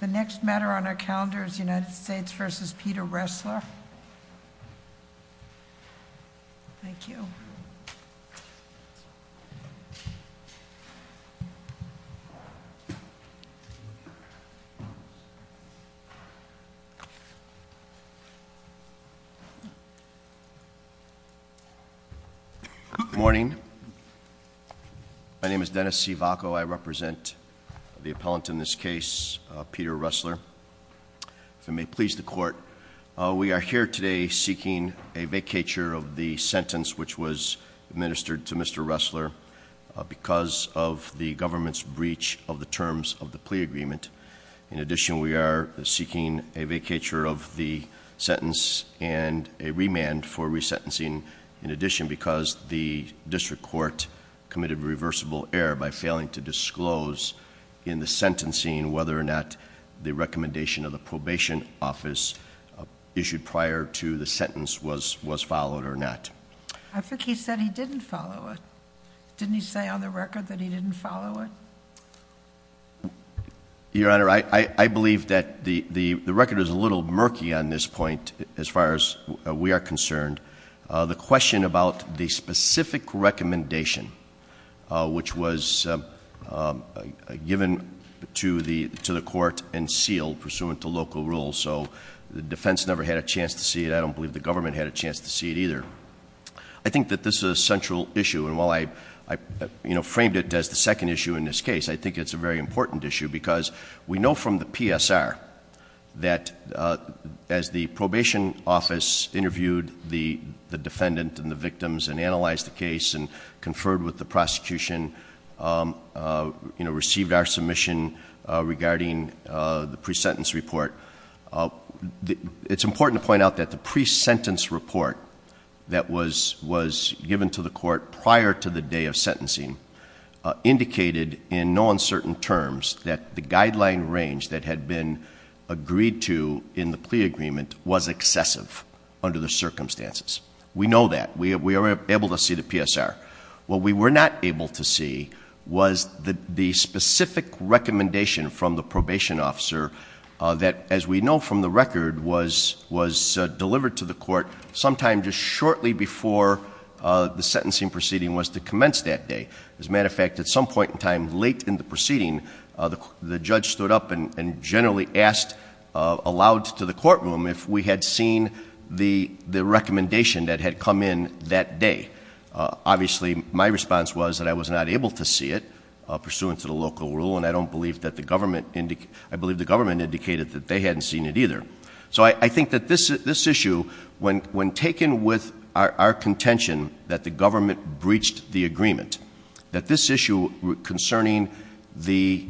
The next matter on our calendar is United States v. Peter Ressler. Thank you. Good morning. My name is Dennis Sivaco, I represent the appellant in this case, Peter Ressler. If it may please the court, we are here today seeking a vacatur of the sentence which was administered to Mr. Ressler because of the government's breach of the terms of the plea agreement. In addition, we are seeking a vacatur of the sentence and a remand for resentencing in addition because the district court committed a reversible error by failing to disclose in the sentencing whether or not the recommendation of the probation office issued prior to the sentence was followed or not. I think he said he didn't follow it. Didn't he say on the record that he didn't follow it? Your Honor, I believe that the record is a little murky on this point as far as we are concerned. The question about the specific recommendation which was given to the court and sealed pursuant to local rules. So the defense never had a chance to see it. I don't believe the government had a chance to see it either. I think that this is a central issue and while I framed it as the second issue in this case, I think it's a very important issue because we know from the PSR that as the probation office interviewed the defendant and the victims and analyzed the case and conferred with the prosecution, received our submission regarding the pre-sentence report. It's important to point out that the pre-sentence report that was given to the court prior to the day of sentencing indicated in no uncertain terms that the guideline range that had been agreed to in the plea agreement was excessive under the circumstances. We know that. We were able to see the PSR. What we were not able to see was the specific recommendation from the probation officer that as we know from the record was delivered to the court sometime just shortly before the sentencing proceeding was to commence that day. As a matter of fact, at some point in time late in the proceeding, the judge stood up and generally asked aloud to the courtroom if we had seen the recommendation that had come in that day. Obviously, my response was that I was not able to see it pursuant to the local rule and I believe the government indicated that they hadn't seen it either. So I think that this issue, when taken with our contention that the government breached the agreement, that this issue concerning the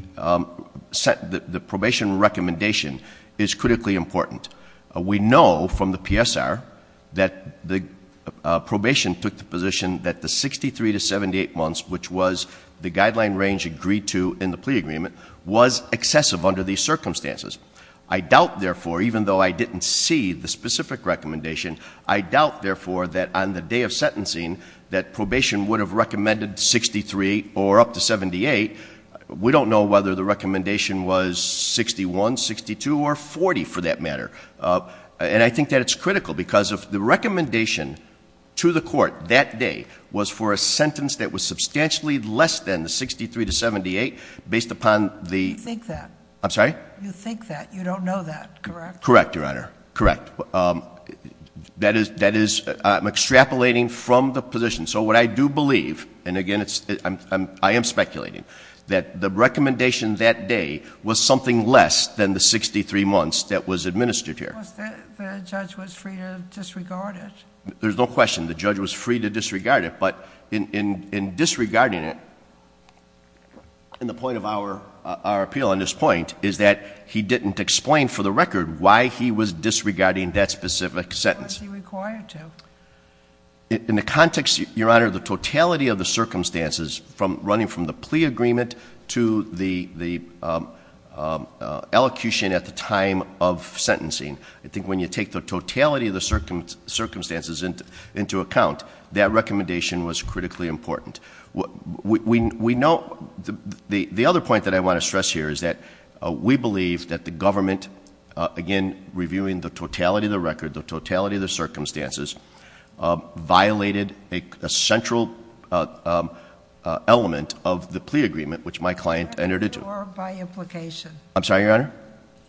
probation recommendation is critically important. We know from the PSR that the probation took the position that the 63 to 78 months, which was the guideline range agreed to in the plea agreement, was excessive under these circumstances. I doubt, therefore, even though I didn't see the specific recommendation, I doubt, therefore, that on the day of sentencing that probation would have recommended 63 or up to 78. We don't know whether the recommendation was 61, 62, or 40 for that matter. And I think that it's critical because if the recommendation to the court that day was for a sentence that was substantially less than the 63 to 78 based upon the- I think that. I'm sorry? You think that. You don't know that, correct? Correct, Your Honor. Correct. That is, I'm extrapolating from the position. So what I do believe, and again, I am speculating, that the recommendation that day was something less than the 63 months that was administered here. The judge was free to disregard it. There's no question, the judge was free to disregard it. But in disregarding it, in the point of our appeal on this point, is that he didn't explain for the record why he was disregarding that specific sentence. What was he required to? In the context, Your Honor, the totality of the circumstances from running from the plea agreement to the elocution at the time of sentencing. I think when you take the totality of the circumstances into account, that recommendation was critically important. The other point that I want to stress here is that we believe that the government, again, reviewing the totality of the record, the totality of the circumstances, violated a central element of the plea agreement, which my client entered into. I'm sorry, Your Honor?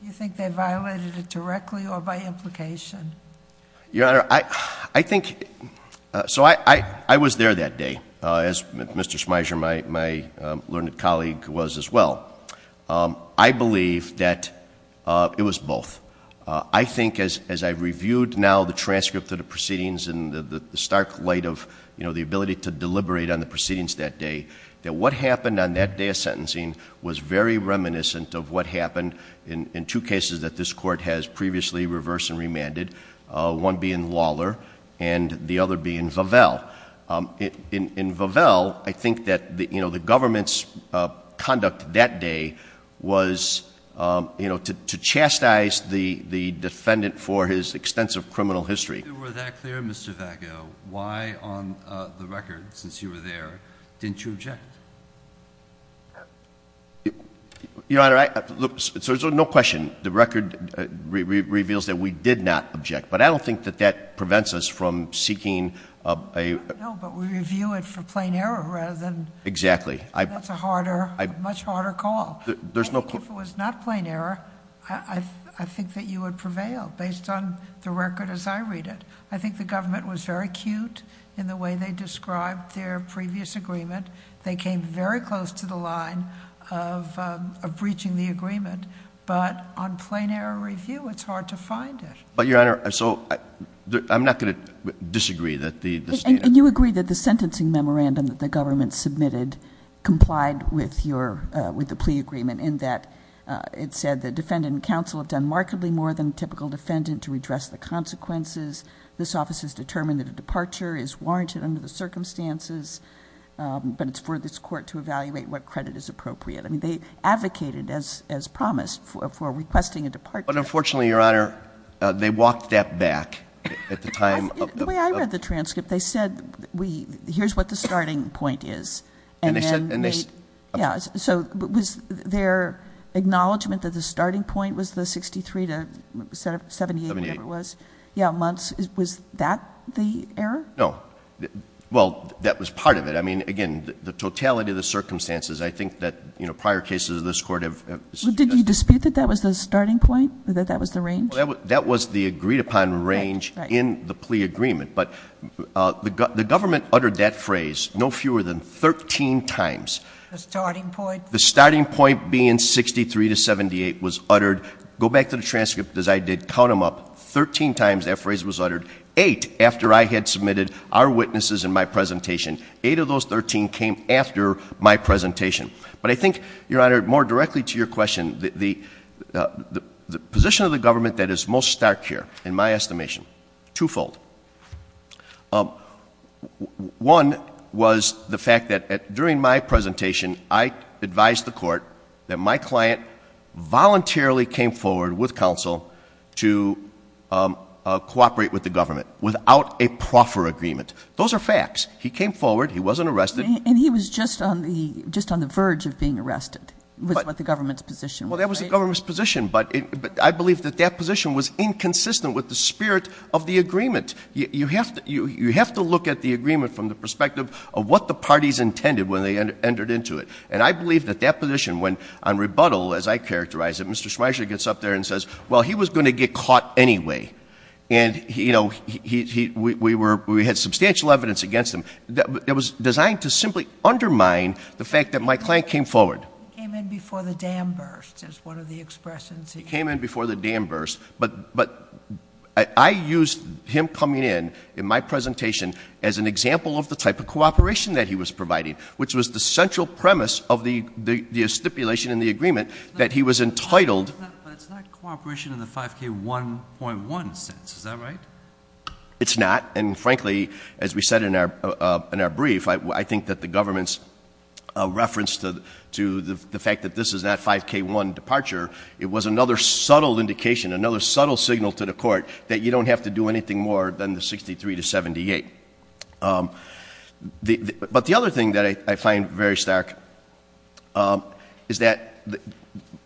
You think they violated it directly or by implication? Your Honor, I think, so I was there that day, as Mr. Schmeiser, my learned colleague, was as well. I believe that it was both. I think as I reviewed now the transcript of the proceedings and the stark light of the ability to deliberate on the proceedings that day, that what happened on that day of sentencing was very reminiscent of what happened in two cases that this court has previously reversed and remanded. One being Lawler and the other being Vavelle. In Vavelle, I think that the government's conduct that day was to chastise the defendant for his extensive criminal history. If you were that clear, Mr. Vavelle, why on the record, since you were there, didn't you object? Your Honor, look, so there's no question, the record reveals that we did not object. But I don't think that that prevents us from seeking a- I don't know, but we review it for plain error rather than- Exactly. That's a much harder call. If it was not plain error, I think that you would prevail based on the record as I read it. I think the government was very cute in the way they described their previous agreement. They came very close to the line of breaching the agreement. But on plain error review, it's hard to find it. But Your Honor, so I'm not going to disagree that the state- In that it said the defendant and counsel have done markedly more than a typical defendant to redress the consequences. This office has determined that a departure is warranted under the circumstances, but it's for this court to evaluate what credit is appropriate. I mean, they advocated as promised for requesting a departure. But unfortunately, Your Honor, they walked that back at the time of- The way I read the transcript, they said, here's what the starting point is. And they said- Yeah, so was their acknowledgment that the starting point was the 63 to 78, whatever it was? Yeah, months. Was that the error? No. Well, that was part of it. I mean, again, the totality of the circumstances, I think that prior cases of this court have- Did you dispute that that was the starting point? That that was the range? That was the agreed upon range in the plea agreement. But the government uttered that phrase no fewer than 13 times. The starting point? The starting point being 63 to 78 was uttered, go back to the transcript as I did, count them up, 13 times that phrase was uttered. Eight after I had submitted our witnesses and my presentation. Eight of those 13 came after my presentation. But I think, Your Honor, more directly to your question, the position of the government that is most stark here, in my estimation, twofold. One was the fact that during my presentation, I advised the court that my client voluntarily came forward with counsel to cooperate with the government without a proffer agreement. Those are facts. He came forward, he wasn't arrested. And he was just on the verge of being arrested, was what the government's position was, right? Well, that was the government's position, but I believe that that position was inconsistent with the spirit of the agreement. You have to look at the agreement from the perspective of what the parties intended when they entered into it. And I believe that that position, when on rebuttal, as I characterize it, Mr. Schmeichel gets up there and says, well, he was going to get caught anyway. And we had substantial evidence against him. It was designed to simply undermine the fact that my client came forward. He came in before the dam burst, is one of the expressions he used. He came in before the dam burst, but I used him coming in, in my presentation, as an example of the type of cooperation that he was providing, which was the central premise of the stipulation in the agreement that he was entitled. But it's not cooperation in the 5k1.1 sense, is that right? It's not, and frankly, as we said in our brief, I think that the government's reference to the fact that this is that 5k1 departure, it was another subtle indication, another subtle signal to the court that you don't have to do anything more than the 63 to 78. But the other thing that I find very stark is that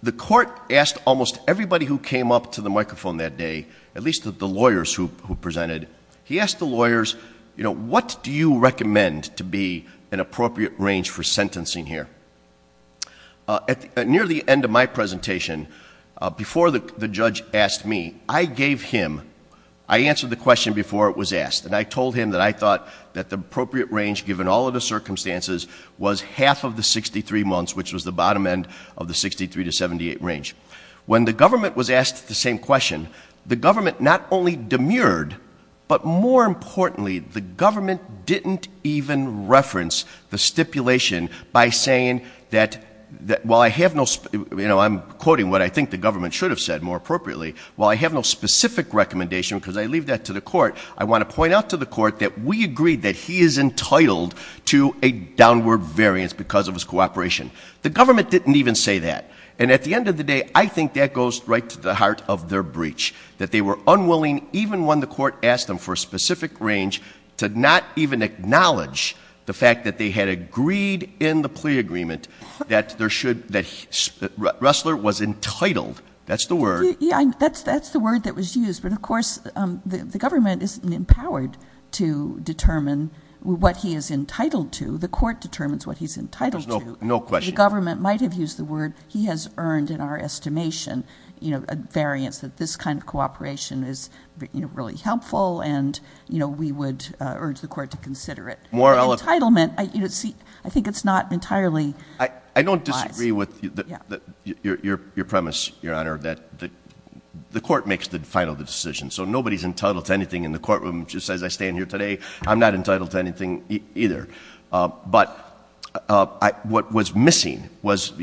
the court asked almost everybody who came up to the microphone that day, at least the lawyers who presented. He asked the lawyers, what do you recommend to be an appropriate range for sentencing here? At near the end of my presentation, before the judge asked me, I gave him, I answered the question before it was asked, and I told him that I thought that the appropriate range, given all of the circumstances, was half of the 63 months, which was the bottom end of the 63 to 78 range. When the government was asked the same question, the government not only demurred, but more importantly, the government didn't even reference the stipulation by saying that, while I have no, I'm quoting what I think the government should have said more appropriately. While I have no specific recommendation, because I leave that to the court, I want to point out to the court that we agreed that he is entitled to a downward variance because of his cooperation. The government didn't even say that. And at the end of the day, I think that goes right to the heart of their breach, that they were unwilling, even when the court asked them for a specific range, to not even acknowledge the fact that they had agreed in the plea agreement that Ressler was entitled. That's the word. Yeah, that's the word that was used. But of course, the government isn't empowered to determine what he is entitled to. The court determines what he's entitled to. No question. The government might have used the word, he has earned in our estimation a variance, that this kind of cooperation is really helpful, and we would urge the court to consider it. More eloquent. Entitlement, I think it's not entirely. I don't disagree with your premise, your honor, that the court makes the final decision. So nobody's entitled to anything in the courtroom. Just as I stand here today, I'm not entitled to anything either. But what was missing was,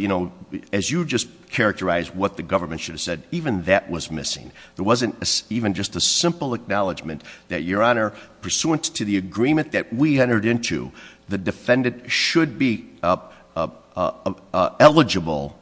as you just characterized what the government should have said, even that was missing. There wasn't even just a simple acknowledgement that your honor, pursuant to the agreement that we entered into, the defendant should be eligible,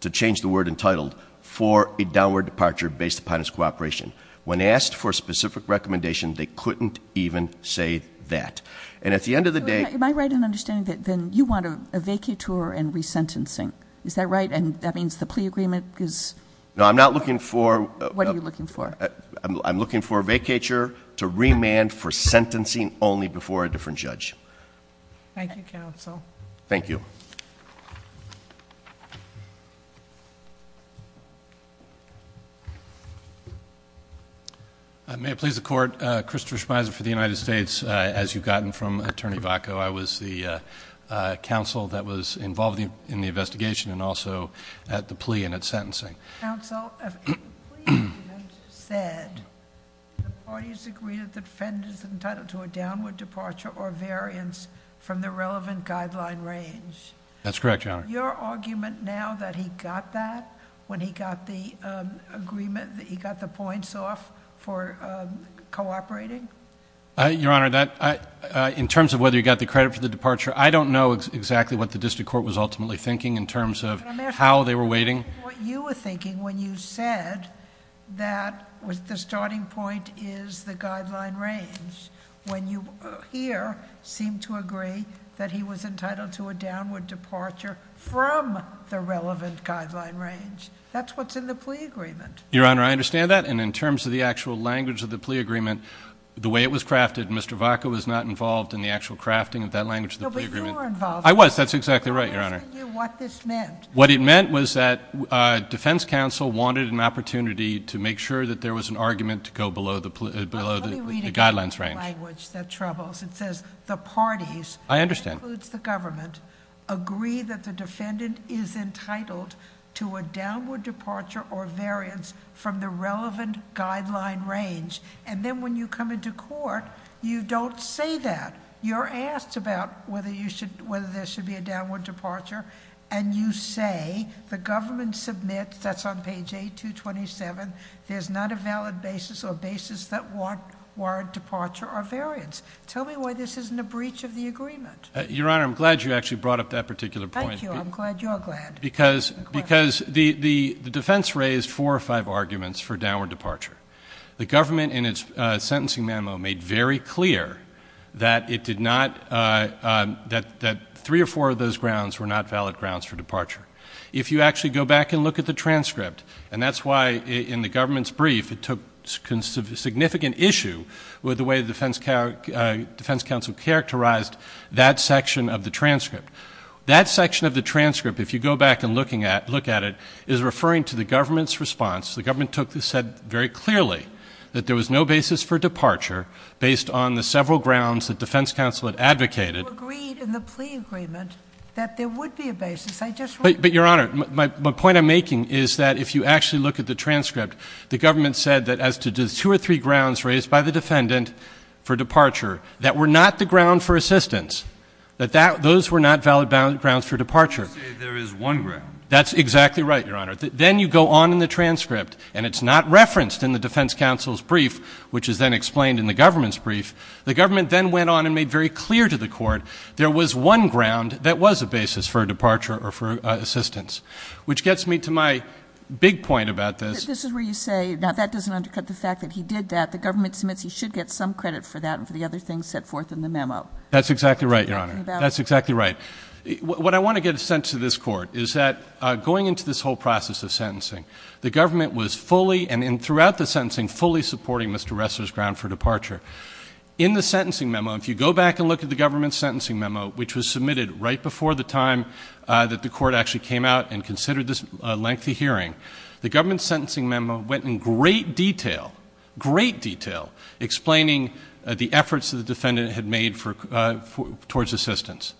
to change the word entitled, for a downward departure based upon his cooperation. When asked for a specific recommendation, they couldn't even say that. And at the end of the day- Am I right in understanding that then you want a vacatur and resentencing? Is that right? And that means the plea agreement is- No, I'm not looking for- What are you looking for? I'm looking for a vacatur to remand for sentencing only before a different judge. Thank you, counsel. Thank you. May it please the court, Christopher Schmeiser for the United States. As you've gotten from Attorney Vacco, I was the counsel that was involved in the investigation and also at the plea and at sentencing. Counsel, if a plea agreement said the parties agree that the defendant is entitled to a downward departure or the relevant guideline range. That's correct, your honor. Your argument now that he got that when he got the agreement, that he got the points off for cooperating? Your honor, in terms of whether he got the credit for the departure, I don't know exactly what the district court was ultimately thinking in terms of how they were waiting. What you were thinking when you said that the starting point is the guideline range. When you here seem to agree that he was entitled to a downward departure from the relevant guideline range. That's what's in the plea agreement. Your honor, I understand that. And in terms of the actual language of the plea agreement, the way it was crafted, Mr. Vacca was not involved in the actual crafting of that language of the plea agreement. No, but you were involved. I was, that's exactly right, your honor. I'm asking you what this meant. What it meant was that defense counsel wanted an opportunity to make sure that there was an argument to go below the guidelines range. Language that troubles. It says the parties. I understand. Includes the government. Agree that the defendant is entitled to a downward departure or variance from the relevant guideline range. And then when you come into court, you don't say that. You're asked about whether there should be a downward departure. And you say, the government submits, that's on page 8227, there's not a valid basis or basis that warrant departure or variance. Tell me why this isn't a breach of the agreement. Your honor, I'm glad you actually brought up that particular point. Thank you, I'm glad you're glad. Because the defense raised four or five arguments for downward departure. The government in its sentencing memo made very clear that it did not, If you actually go back and look at the transcript, and that's why in the government's brief, it took significant issue with the way the defense counsel characterized that section of the transcript. That section of the transcript, if you go back and look at it, is referring to the government's response. The government said very clearly that there was no basis for departure based on the several grounds that defense counsel had advocated. You agreed in the plea agreement that there would be a basis. I just- But your honor, my point I'm making is that if you actually look at the transcript, the government said that as to the two or three grounds raised by the defendant for departure. That were not the ground for assistance. That those were not valid grounds for departure. You say there is one ground. That's exactly right, your honor. Then you go on in the transcript, and it's not referenced in the defense counsel's brief, which is then explained in the government's brief. The government then went on and made very clear to the court, there was one ground that was a basis for departure or for assistance. Which gets me to my big point about this. This is where you say, now that doesn't undercut the fact that he did that. The government submits, he should get some credit for that and for the other things set forth in the memo. That's exactly right, your honor. That's exactly right. What I want to get a sense of this court is that going into this whole process of sentencing, the government was fully, and throughout the sentencing, fully supporting Mr. Ressler's ground for departure. In the sentencing memo, if you go back and look at the government's sentencing memo, which was submitted right before the time that the court actually came out and considered this lengthy hearing, the government's sentencing memo went in great detail, great detail, explaining the efforts that the defendant had made towards assistance.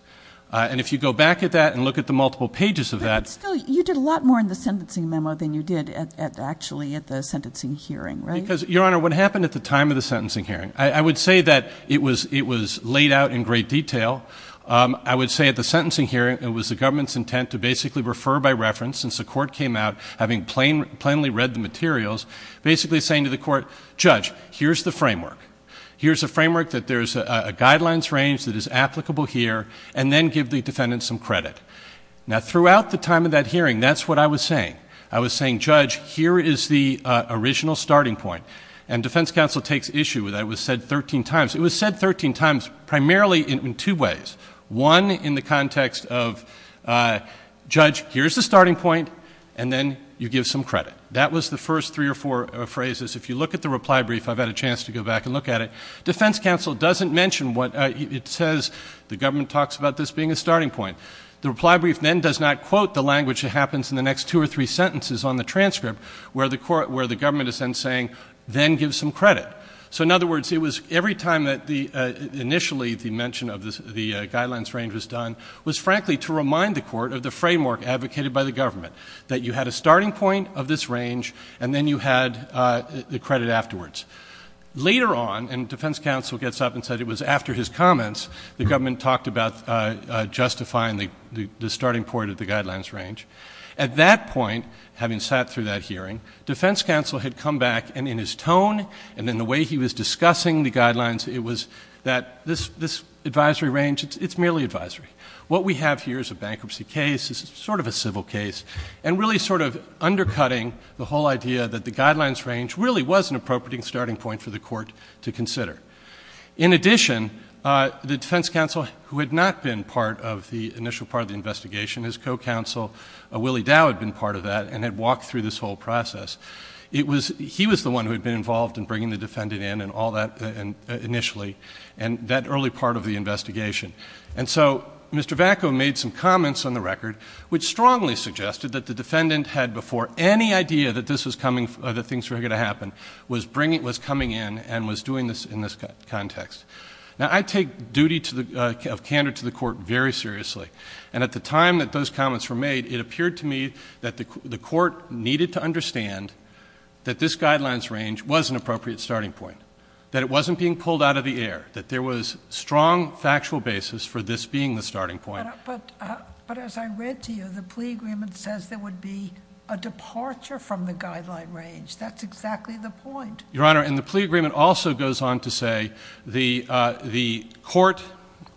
And if you go back at that and look at the multiple pages of that- But still, you did a lot more in the sentencing memo than you did actually at the sentencing hearing, right? Because, your honor, what happened at the time of the sentencing hearing, I would say that it was laid out in great detail. I would say at the sentencing hearing, it was the government's intent to basically refer by reference, since the court came out having plainly read the materials, basically saying to the court, judge, here's the framework. Here's a framework that there's a guidelines range that is applicable here, and then give the defendant some credit. Now, throughout the time of that hearing, that's what I was saying. I was saying, judge, here is the original starting point. And defense counsel takes issue with that. It was said 13 times. It was said 13 times primarily in two ways. One, in the context of, judge, here's the starting point, and then you give some credit. That was the first three or four phrases. If you look at the reply brief, I've had a chance to go back and look at it. Defense counsel doesn't mention what it says, the government talks about this being a starting point. The reply brief then does not quote the language that happens in the next two or three sentences on the transcript, where the government is then saying, then give some credit. So in other words, it was every time that initially the mention of the guidelines range was done, was frankly to remind the court of the framework advocated by the government. That you had a starting point of this range, and then you had the credit afterwards. Later on, and defense counsel gets up and said it was after his comments, the government talked about justifying the starting point of the guidelines range. At that point, having sat through that hearing, defense counsel had come back, and in his tone, and then the way he was discussing the guidelines, it was that this advisory range, it's merely advisory. What we have here is a bankruptcy case, it's sort of a civil case, and it's really sort of undercutting the whole idea that the guidelines range really was an appropriate starting point for the court to consider. In addition, the defense counsel who had not been part of the initial part of the investigation, his co-counsel Willie Dow had been part of that and had walked through this whole process. He was the one who had been involved in bringing the defendant in and all that initially, and that early part of the investigation. And so, Mr. Vacco made some comments on the record, which strongly suggested that the defendant had before any idea that this was coming, that things were going to happen, was coming in and was doing this in this context. Now, I take duty of candor to the court very seriously. And at the time that those comments were made, it appeared to me that the court needed to understand that this guidelines range was an appropriate starting point, that it wasn't being pulled out of the air, that there was strong factual basis for this being the starting point. But as I read to you, the plea agreement says there would be a departure from the guideline range. That's exactly the point. Your Honor, and the plea agreement also goes on to say the court,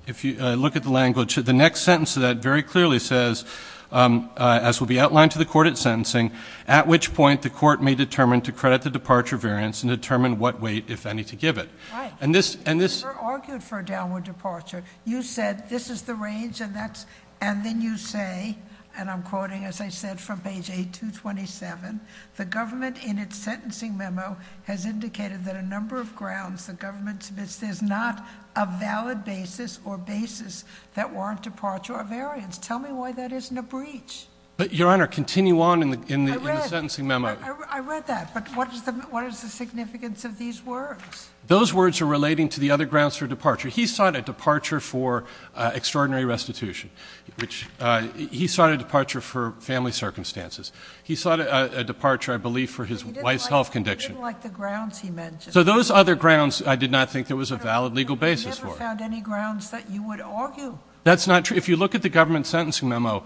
if you look at the language, the next sentence of that very clearly says, as will be outlined to the court at sentencing, at which point the court may determine to credit the departure variance and determine what weight, if any, to give it. And this- You argued for a downward departure. You said this is the range and then you say, and I'm quoting as I said from page 8227, the government in its sentencing memo has indicated that a number of grounds the government submits, there's not a valid basis or basis that warrant departure or variance. Tell me why that isn't a breach. But Your Honor, continue on in the sentencing memo. I read that, but what is the significance of these words? Those words are relating to the other grounds for departure. He sought a departure for extraordinary restitution, which he sought a departure for family circumstances. He sought a departure, I believe, for his wife's health condition. He didn't like the grounds he mentioned. So those other grounds, I did not think there was a valid legal basis for. I never found any grounds that you would argue. That's not true. If you look at the government sentencing memo,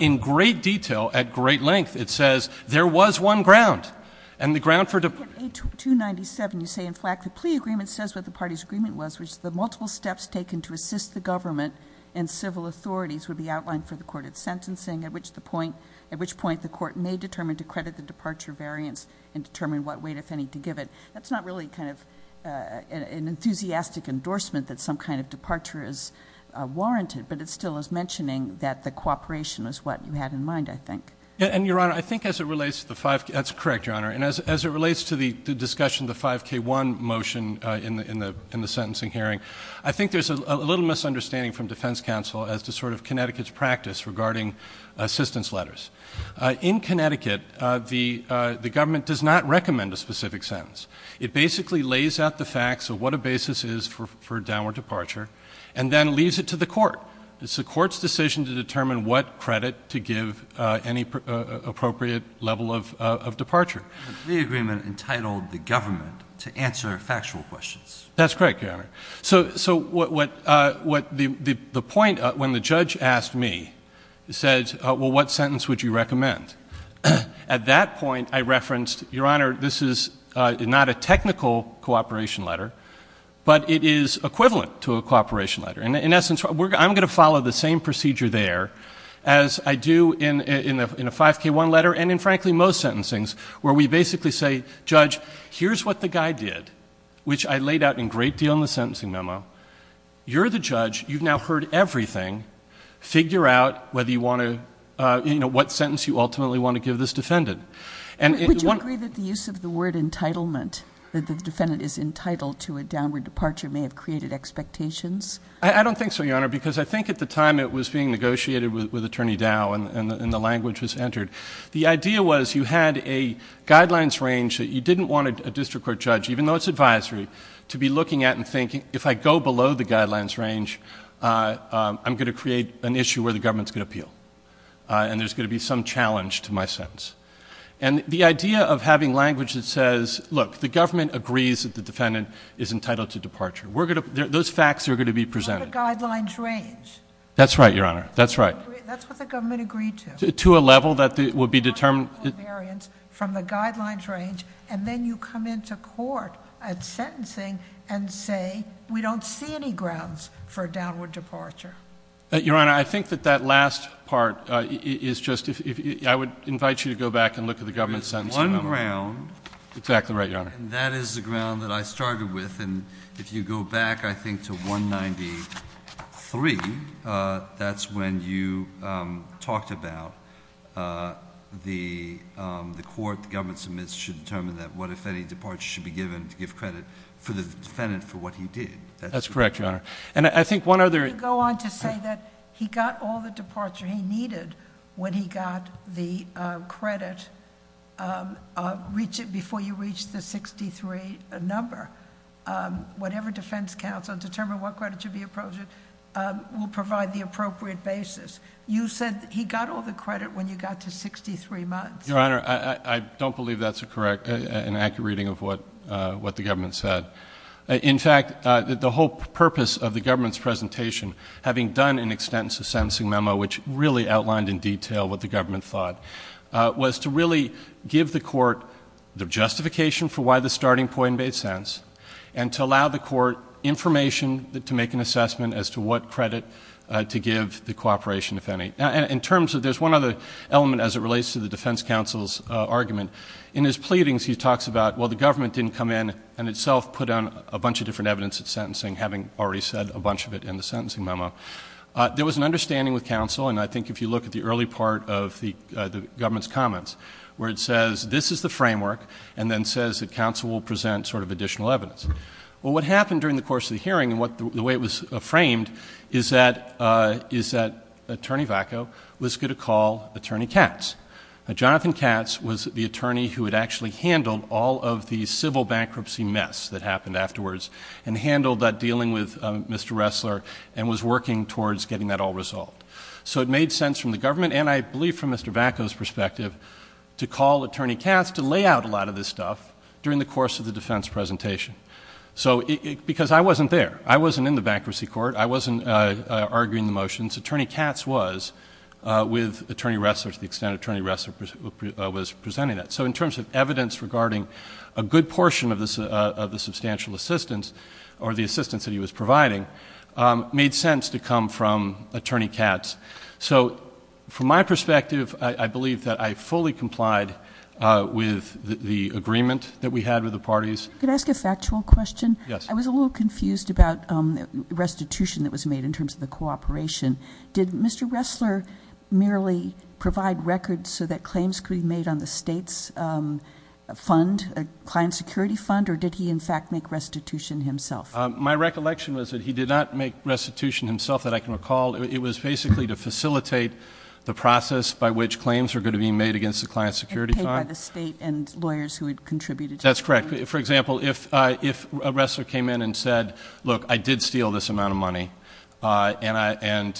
in great detail, at great length, it says there was one ground. And the ground for- At 8297, you say, in fact, the plea agreement says what the party's agreement was, which the multiple steps taken to assist the government and civil authorities would be outlined for the court at sentencing, at which point the court may determine to credit the departure variance and determine what weight, if any, to give it. That's not really kind of an enthusiastic endorsement that some kind of departure is warranted, but it still is mentioning that the cooperation is what you had in mind, I think. And, Your Honor, I think as it relates to the 5K, that's correct, Your Honor. And as it relates to the discussion of the 5K1 motion in the sentencing hearing, I think there's a little misunderstanding from defense counsel as to sort of Connecticut's practice regarding assistance letters. In Connecticut, the government does not recommend a specific sentence. It basically lays out the facts of what a basis is for downward departure, and then leaves it to the court. It's the court's decision to determine what credit to give any appropriate level of departure. The agreement entitled the government to answer factual questions. That's correct, Your Honor. So the point, when the judge asked me, he said, well, what sentence would you recommend? At that point, I referenced, Your Honor, this is not a technical cooperation letter, but it is equivalent to a cooperation letter. And in essence, I'm going to follow the same procedure there as I do in a 5K1 letter, and in frankly most sentencings, where we basically say, Judge, here's what the guy did, which I laid out in great deal in the sentencing memo. You're the judge, you've now heard everything, figure out whether you want to, what sentence you ultimately want to give this defendant. Would you agree that the use of the word entitlement, that the defendant is entitled to a downward departure, may have created expectations? I don't think so, Your Honor, because I think at the time it was being negotiated with Attorney Dow, and the language was entered. The idea was, you had a guidelines range that you didn't want a district court judge, even though it's advisory, to be looking at and thinking, if I go below the guidelines range, I'm going to create an issue where the government's going to appeal. And there's going to be some challenge to my sentence. And the idea of having language that says, look, the government agrees that the defendant is entitled to departure. We're going to, those facts are going to be presented. You have a guidelines range. That's right, Your Honor. That's right. That's what the government agreed to. To a level that would be determined. Variance from the guidelines range, and then you come into court at sentencing and say, we don't see any grounds for a downward departure. Your Honor, I think that that last part is just, I would invite you to go back and look at the government's sentence. One ground. Exactly right, Your Honor. That is the ground that I started with, and if you go back, I think, to 193. That's when you talked about the court, the government submits should determine that what if any departure should be given to give credit for the defendant for what he did. That's correct, Your Honor. And I think one other. Let me go on to say that he got all the departure he needed when he got the credit. Reach it before you reach the 63 number, whatever defense counsel, determine what credit should be appropriate will provide the appropriate basis. You said he got all the credit when you got to 63 months. Your Honor, I don't believe that's a correct and accurate reading of what the government said. In fact, the whole purpose of the government's presentation, having done an extensive sentencing memo, which really outlined in detail what the government thought, was to really give the court the justification for why the starting point made sense, and to allow the court information to make an assessment as to what credit to give the cooperation, if any. Now, in terms of, there's one other element as it relates to the defense counsel's argument. In his pleadings, he talks about, well, the government didn't come in and itself put on a bunch of different evidence at sentencing, having already said a bunch of it in the sentencing memo. There was an understanding with counsel, and I think if you look at the early part of the government's comments, where it says this is the framework, and then says that counsel will present sort of additional evidence. Well, what happened during the course of the hearing, and the way it was framed, is that Attorney Vacco was going to call Attorney Katz. Now, Jonathan Katz was the attorney who had actually handled all of the civil bankruptcy mess that happened afterwards, and handled that dealing with Mr. Ressler, and was working towards getting that all resolved. So it made sense from the government, and I believe from Mr. Vacco's perspective, to call Attorney Katz to lay out a lot of this stuff during the course of the defense presentation. So, because I wasn't there, I wasn't in the bankruptcy court, I wasn't arguing the motions. Attorney Katz was, with Attorney Ressler, to the extent Attorney Ressler was presenting that. So in terms of evidence regarding a good portion of the substantial assistance, or the assistance that he was providing, made sense to come from Attorney Katz. So, from my perspective, I believe that I fully complied with the agreement that we had with the parties. Could I ask a factual question? Yes. I was a little confused about restitution that was made in terms of the cooperation. Did Mr. Ressler merely provide records so that claims could be made on the state's fund, a client security fund, or did he in fact make restitution himself? My recollection was that he did not make restitution himself, that I can recall. It was basically to facilitate the process by which claims are going to be made against the client security fund. And paid by the state and lawyers who had contributed to it. That's correct. For example, if a Ressler came in and said, look, I did steal this amount of money. And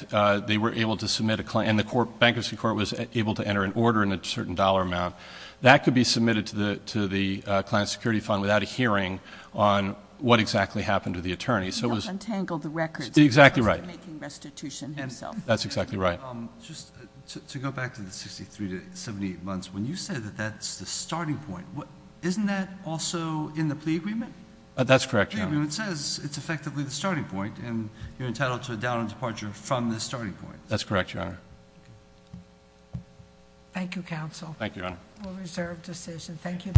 they were able to submit a claim, and the bankruptcy court was able to enter an order in a certain dollar amount. That could be submitted to the client security fund without a hearing on what exactly happened to the attorney. So it was- He untangled the records. Exactly right. He wasn't making restitution himself. That's exactly right. Just to go back to the 63 to 78 months, when you said that that's the starting point. Isn't that also in the plea agreement? That's correct, Your Honor. The plea agreement says it's effectively the starting point, and you're entitled to a down and departure from the starting point. That's correct, Your Honor. Thank you, counsel. Thank you, Your Honor. A reserved decision. Thank you.